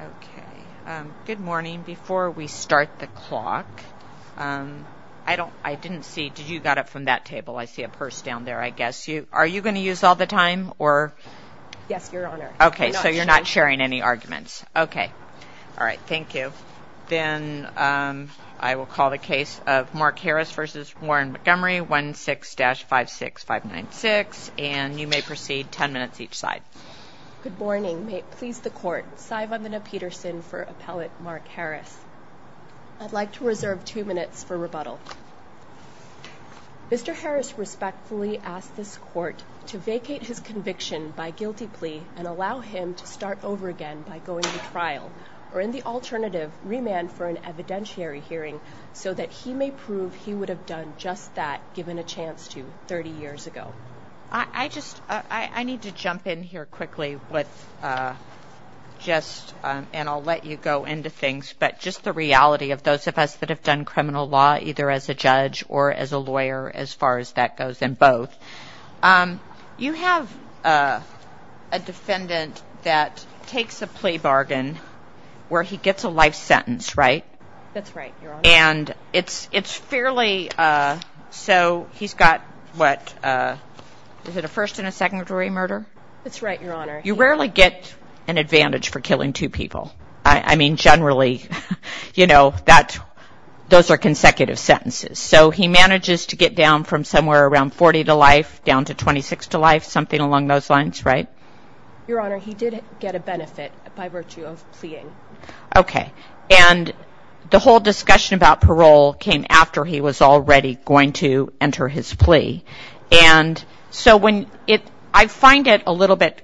Okay, good morning. Before we start the clock, I don't, I didn't see, did you got it from that table? I see a purse down there, I guess. Are you going to use all the time, or? Yes, your honor. Okay, so you're not sharing any arguments. Okay. All right, thank you. Then I will call the case of Mark Harris v. Warren Montgomery, 1-6-56-596, and you may proceed 10 minutes each side. Good morning. May it please the court, Saivamana Peterson for appellate Mark Harris. I'd like to reserve two minutes for rebuttal. Mr. Harris respectfully asked this court to vacate his conviction by guilty plea and allow him to start over again by going to trial, or in the alternative, remand for an evidentiary hearing so that he may prove he would have done just that given a chance to 30 years ago. I just, I need to jump in here quickly with just, and I'll let you go into things, but just the reality of those of us that have done criminal law either as a judge or as a lawyer as far as that goes, and both. You have a defendant that takes a plea bargain where he gets a life sentence, right? That's right, your honor. And it's fairly, so he's got what, is it a first and a secondary murder? That's right, your honor. You rarely get an advantage for killing two people. I mean, generally, you know, that, those are consecutive sentences. So he manages to get down from somewhere around 40 to life down to 26 to life, something along those lines, right? Your honor, he did get a benefit by virtue of pleading. Okay. And the whole discussion about parole came after he was already going to enter his plea. And so when it, I find it a little bit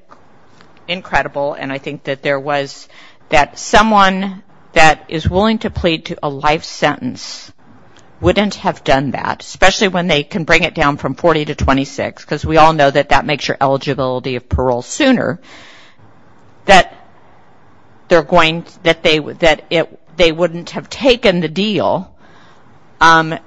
incredible, and I think that there was, that someone that is willing to plead to a life sentence wouldn't have done that, especially when they can bring it down from 40 to 26, because we all know that that makes your eligibility of parole sooner, that they're going, that they wouldn't have taken the deal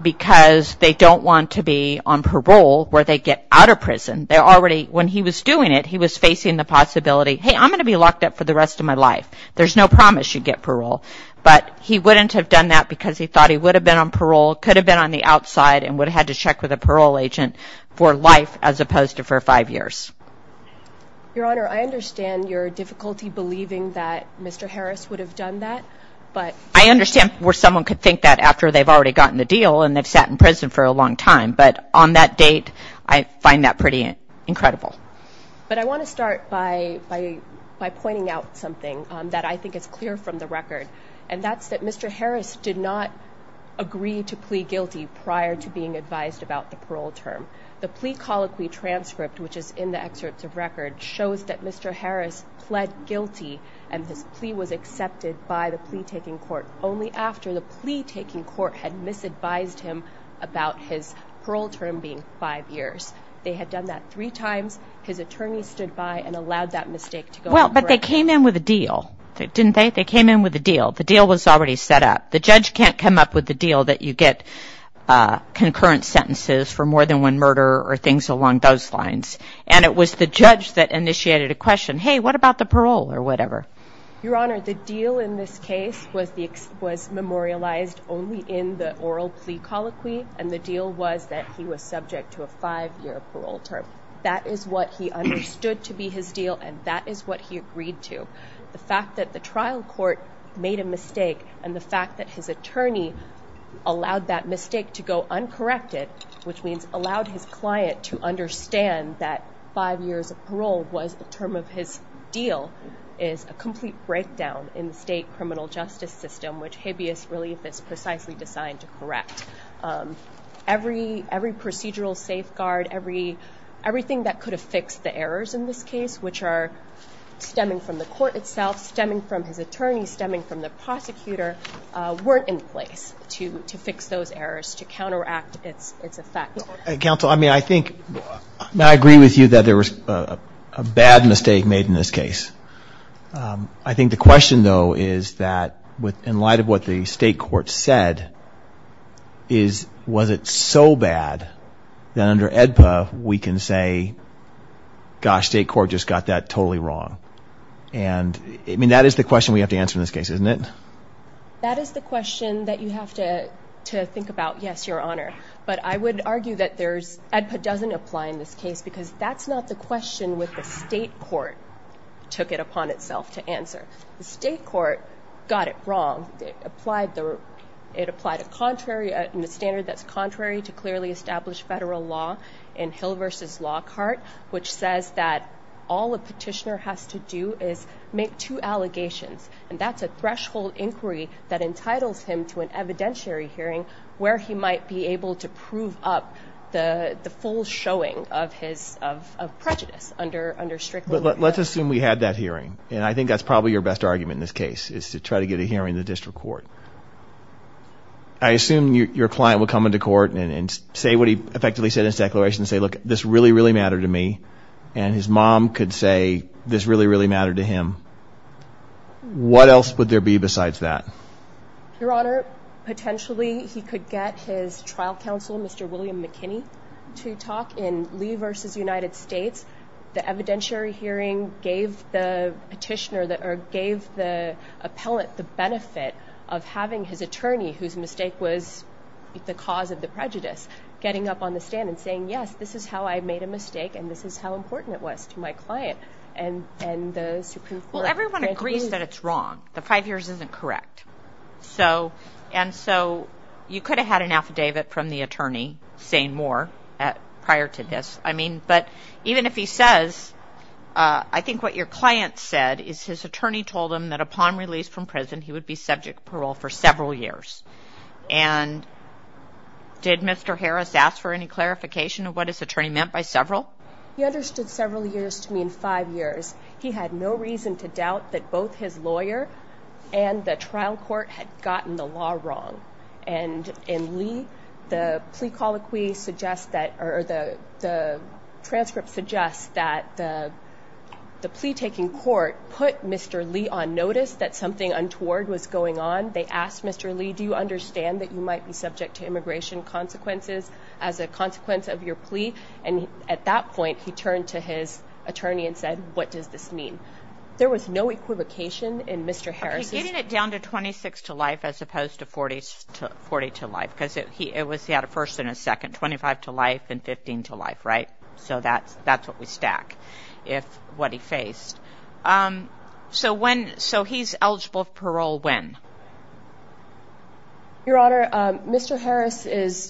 because they don't want to be on parole where they get out of prison. They're already, when he was doing it, he was facing the possibility, hey, I'm going to be locked up for the rest of my life. There's no promise you get parole. But he wouldn't have done that because he thought he would have been on parole, could have been on the outside, and would have had to check with a parole agent for life as opposed to for five years. Your honor, I understand your difficulty believing that Mr. Harris would have done that. I understand where someone could think that after they've already gotten the deal and they've sat in prison for a long time. But on that date, I find that pretty incredible. But I want to start by pointing out something that I think is clear from the record, and that's that Mr. Harris did not agree to plea guilty prior to being advised about the parole term. The plea colloquy transcript, which is in the excerpts of record, shows that Mr. Harris pled guilty and his plea was accepted by the plea taking court only after the plea taking court had misadvised him about his parole term being five years. They had done that three times. His attorney stood by and allowed that mistake to go. Well, but they came in with a deal, didn't they? They came in with a deal. The deal was already set up. The judge can't come up with a deal that you get concurrent sentences for more than one murder or things along those lines. And it was the judge that initiated a question, hey, what about the parole or whatever? Your honor, the deal in this case was memorialized only in the oral plea colloquy, and the deal was that he was subject to a five-year parole term. That is what he understood to be his deal, and that is what he agreed to. The fact that the trial court made a mistake and the fact that his attorney allowed that mistake to go uncorrected, which means allowed his client to understand that five years of parole was a term of his deal, is a complete breakdown in the state criminal justice system, which habeas relief is precisely designed to correct. Every procedural safeguard, everything that could have fixed the errors in this case, which are stemming from the court itself, stemming from his attorney, stemming from the prosecutor, weren't in place to fix those errors, to counteract its effect. Counsel, I mean, I think, I agree with you that there was a bad mistake made in this case. I think the question, though, is that in light of what the state court said, was it so bad that under AEDPA we can say, gosh, state court just got that totally wrong? And, I mean, that is the question we have to answer in this case, isn't it? That is the question that you have to think about. Yes, Your Honor. But I would argue that AEDPA doesn't apply in this case because that's not the question that the state court took it upon itself to answer. The state court got it wrong. It applied a contrary, a standard that's contrary to clearly established federal law in Hill v. Lockhart, which says that all a petitioner has to do is make two allegations. And that's a threshold inquiry that entitles him to an evidentiary hearing where he might be able to prove up the full showing of his prejudice under strictly law. Let's assume we had that hearing. And I think that's probably your best argument in this case is to try to get a hearing in the district court. I assume your client would come into court and say what he effectively said in his declaration and say, look, this really, really mattered to me. And his mom could say this really, really mattered to him. What else would there be besides that? Your Honor, potentially he could get his trial counsel, Mr. William McKinney, to talk in Lee v. United States. The evidentiary hearing gave the petitioner or gave the appellant the benefit of having his attorney, whose mistake was the cause of the prejudice, getting up on the stand and saying, yes, this is how I made a mistake and this is how important it was to my client and the Supreme Court. Well, everyone agrees that it's wrong. The five years isn't correct. And so you could have had an affidavit from the attorney saying more prior to this. I mean, but even if he says, I think what your client said is his attorney told him that upon release from prison he would be subject to parole for several years. And did Mr. Harris ask for any clarification of what his attorney meant by several? He understood several years to mean five years. He had no reason to doubt that both his lawyer and the trial court had gotten the law wrong. And in Lee, the plea colloquy suggests that or the transcript suggests that the plea taking court put Mr. Lee on notice that something untoward was going on. They asked Mr. Lee, do you understand that you might be subject to immigration consequences as a consequence of your plea? And at that point, he turned to his attorney and said, what does this mean? There was no equivocation in Mr. Harris. He was getting it down to 26 to life as opposed to 40 to life because he had a first and a second, 25 to life and 15 to life, right? So that's what we stack, what he faced. So he's eligible for parole when? Your Honor, Mr. Harris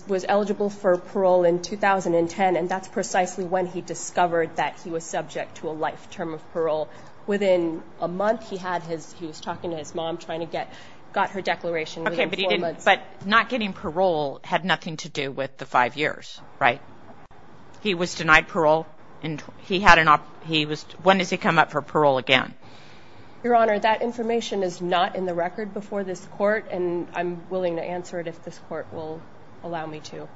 was eligible for parole in 2010, and that's precisely when he discovered that he was subject to a life term of parole. Within a month, he had his he was talking to his mom trying to get got her declaration. But not getting parole had nothing to do with the five years. Right. He was denied parole and he had an he was when does he come up for parole again? Your Honor, that information is not in the record before this court. And I'm willing to answer it if this court will allow me to.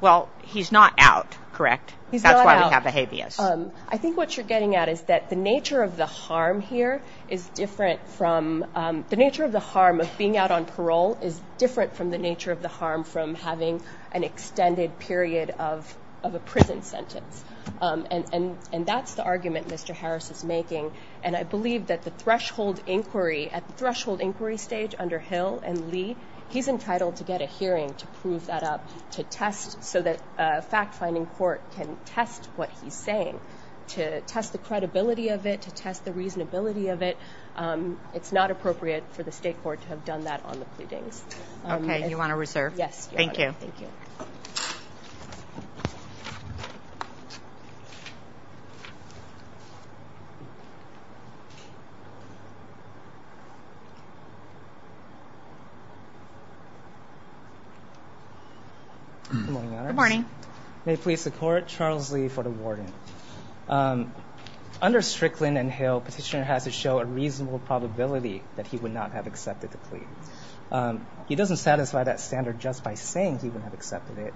Well, he's not out. Correct. That's why we have a habeas. I think what you're getting at is that the nature of the harm here is different from the nature of the harm of being out on parole is different from the nature of the harm from having an extended period of a prison sentence. And that's the argument Mr. Harris is making. And I believe that the threshold inquiry at the threshold inquiry stage under Hill and Lee, he's entitled to get a hearing to prove that up to test so that fact finding court can test what he's saying to test the credibility of it, to test the reasonability of it. It's not appropriate for the state court to have done that on the pleadings. Thank you. Morning. May please support Charles Lee for the warden. Under Strickland and Hill petitioner has to show a reasonable probability that he would not have accepted the plea. He doesn't satisfy that standard just by saying he wouldn't have accepted it.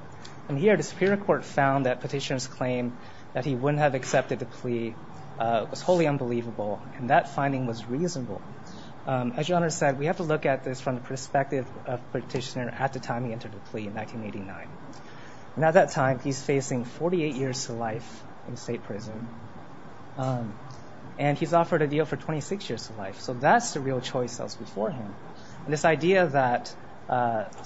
And here the Superior Court found that petitioners claim that he wouldn't have accepted the plea was wholly unbelievable. And that finding was reasonable. As you understand, we have to look at this from the perspective of petitioner at the time he entered the plea in 1989. And at that time, he's facing 48 years to life in state prison. So that's the real choice that was before him. And this idea that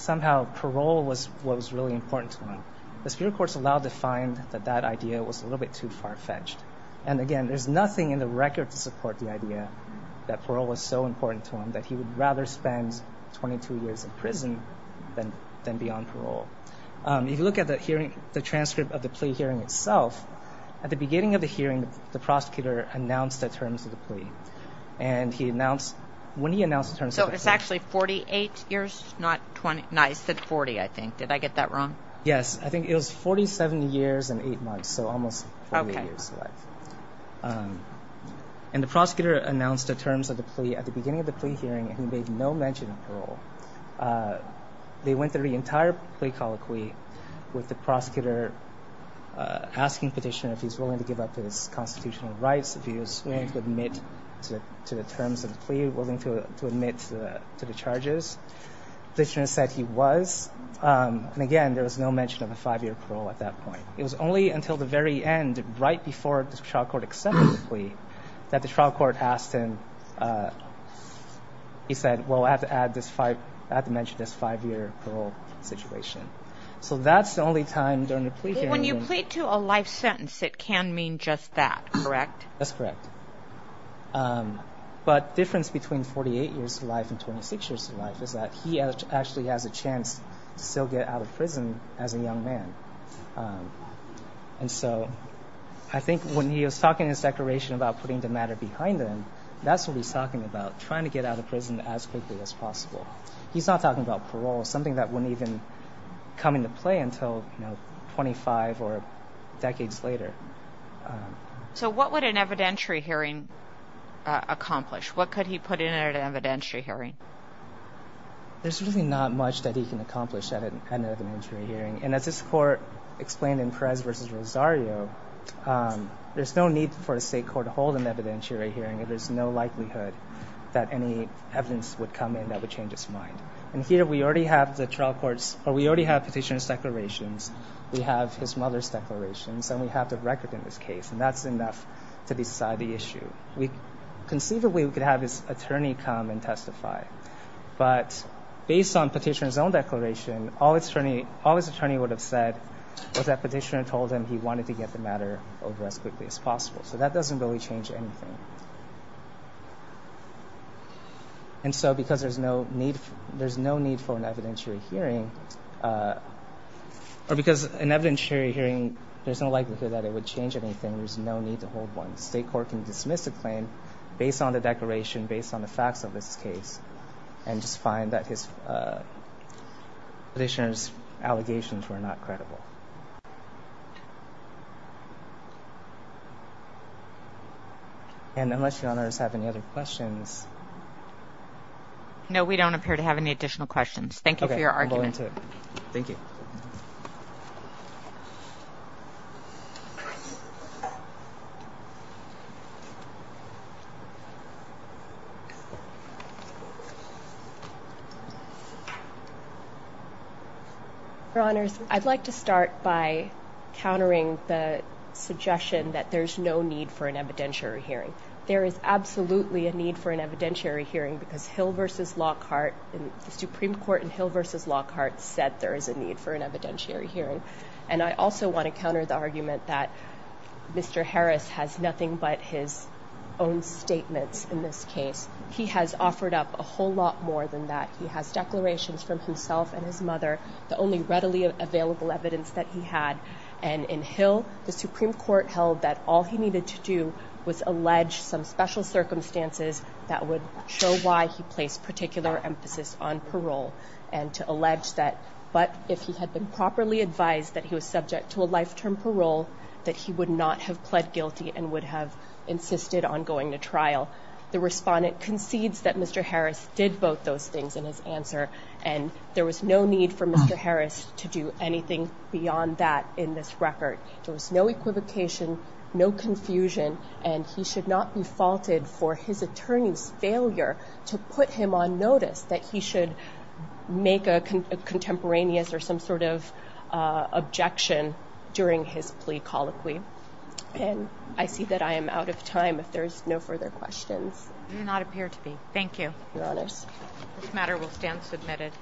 somehow parole was what was really important to him, the Superior Court's allowed to find that that idea was a little bit too far fetched. And again, there's nothing in the record to support the idea that parole was so important to him that he would rather spend 22 years in prison than be on parole. If you look at the transcript of the plea hearing itself, at the beginning of the hearing, the prosecutor announced the terms of the plea. And he announced, when he announced the terms of the plea... So it's actually 48 years, not 20, no, he said 40, I think. Did I get that wrong? Yes, I think it was 47 years and 8 months, so almost 48 years to life. Okay. And the prosecutor announced the terms of the plea at the beginning of the plea hearing, and he made no mention of parole. They went through the entire plea colloquy with the prosecutor asking Petitioner if he's willing to give up his constitutional rights, if he was willing to admit to the terms of the plea, willing to admit to the charges. Petitioner said he was. And again, there was no mention of a five-year parole at that point. It was only until the very end, right before the trial court accepted the plea, that the trial court asked him, he said, well, I have to mention this five-year parole situation. So that's the only time during the plea hearing... When you plead to a life sentence, it can mean just that, correct? That's correct. But the difference between 48 years to life and 26 years to life is that he actually has a chance to still get out of prison as a young man. And so I think when he was talking in his declaration about putting the matter behind him, that's what he's talking about, trying to get out of prison as quickly as possible. He's not talking about parole, something that wouldn't even come into play until 25 or decades later. So what would an evidentiary hearing accomplish? What could he put in at an evidentiary hearing? There's really not much that he can accomplish at an evidentiary hearing. And as this court explained in Perez v. Rosario, there's no need for a state court to hold an evidentiary hearing if there's no likelihood that any evidence would come in that would change its mind. And here we already have petitioner's declarations, we have his mother's declarations, and we have the record in this case, and that's enough to decide the issue. Conceivably, we could have his attorney come and testify. But based on petitioner's own declaration, all his attorney would have said was that petitioner told him he wanted to get the matter over as quickly as possible. So that doesn't really change anything. And so because there's no need for an evidentiary hearing, there's no likelihood that it would change anything. There's no need to hold one. State court can dismiss a claim based on the declaration, based on the facts of this case, and just find that his petitioner's allegations were not credible. And unless your honors have any other questions. No, we don't appear to have any additional questions. Thank you for your argument. Thank you. Your honors, I'd like to start by countering the suggestion that there's no need for an evidentiary hearing. There is absolutely a need for an evidentiary hearing because Hill v. Lockhart, the Supreme Court in Hill v. Lockhart said there is a need for an evidentiary hearing. And I also want to counter the argument that Mr. Harris has nothing but his own statements in this case. He has offered up a whole lot more than that. He has declarations from himself and his mother, the only readily available evidence that he had. And in Hill, the Supreme Court held that all he needed to do was allege some special circumstances that would show why he placed particular emphasis on parole. And to allege that, but if he had been properly advised that he was subject to a life-term parole, that he would not have pled guilty and would have insisted on going to trial. The respondent concedes that Mr. Harris did both those things in his answer, and there was no need for Mr. Harris to do anything beyond that in this record. There was no equivocation, no confusion, and he should not be faulted for his attorney's failure to put him on notice that he should make a contemporaneous or some sort of objection during his plea colloquy. And I see that I am out of time if there is no further questions. You do not appear to be. Thank you. Your Honors. This matter will stand submitted.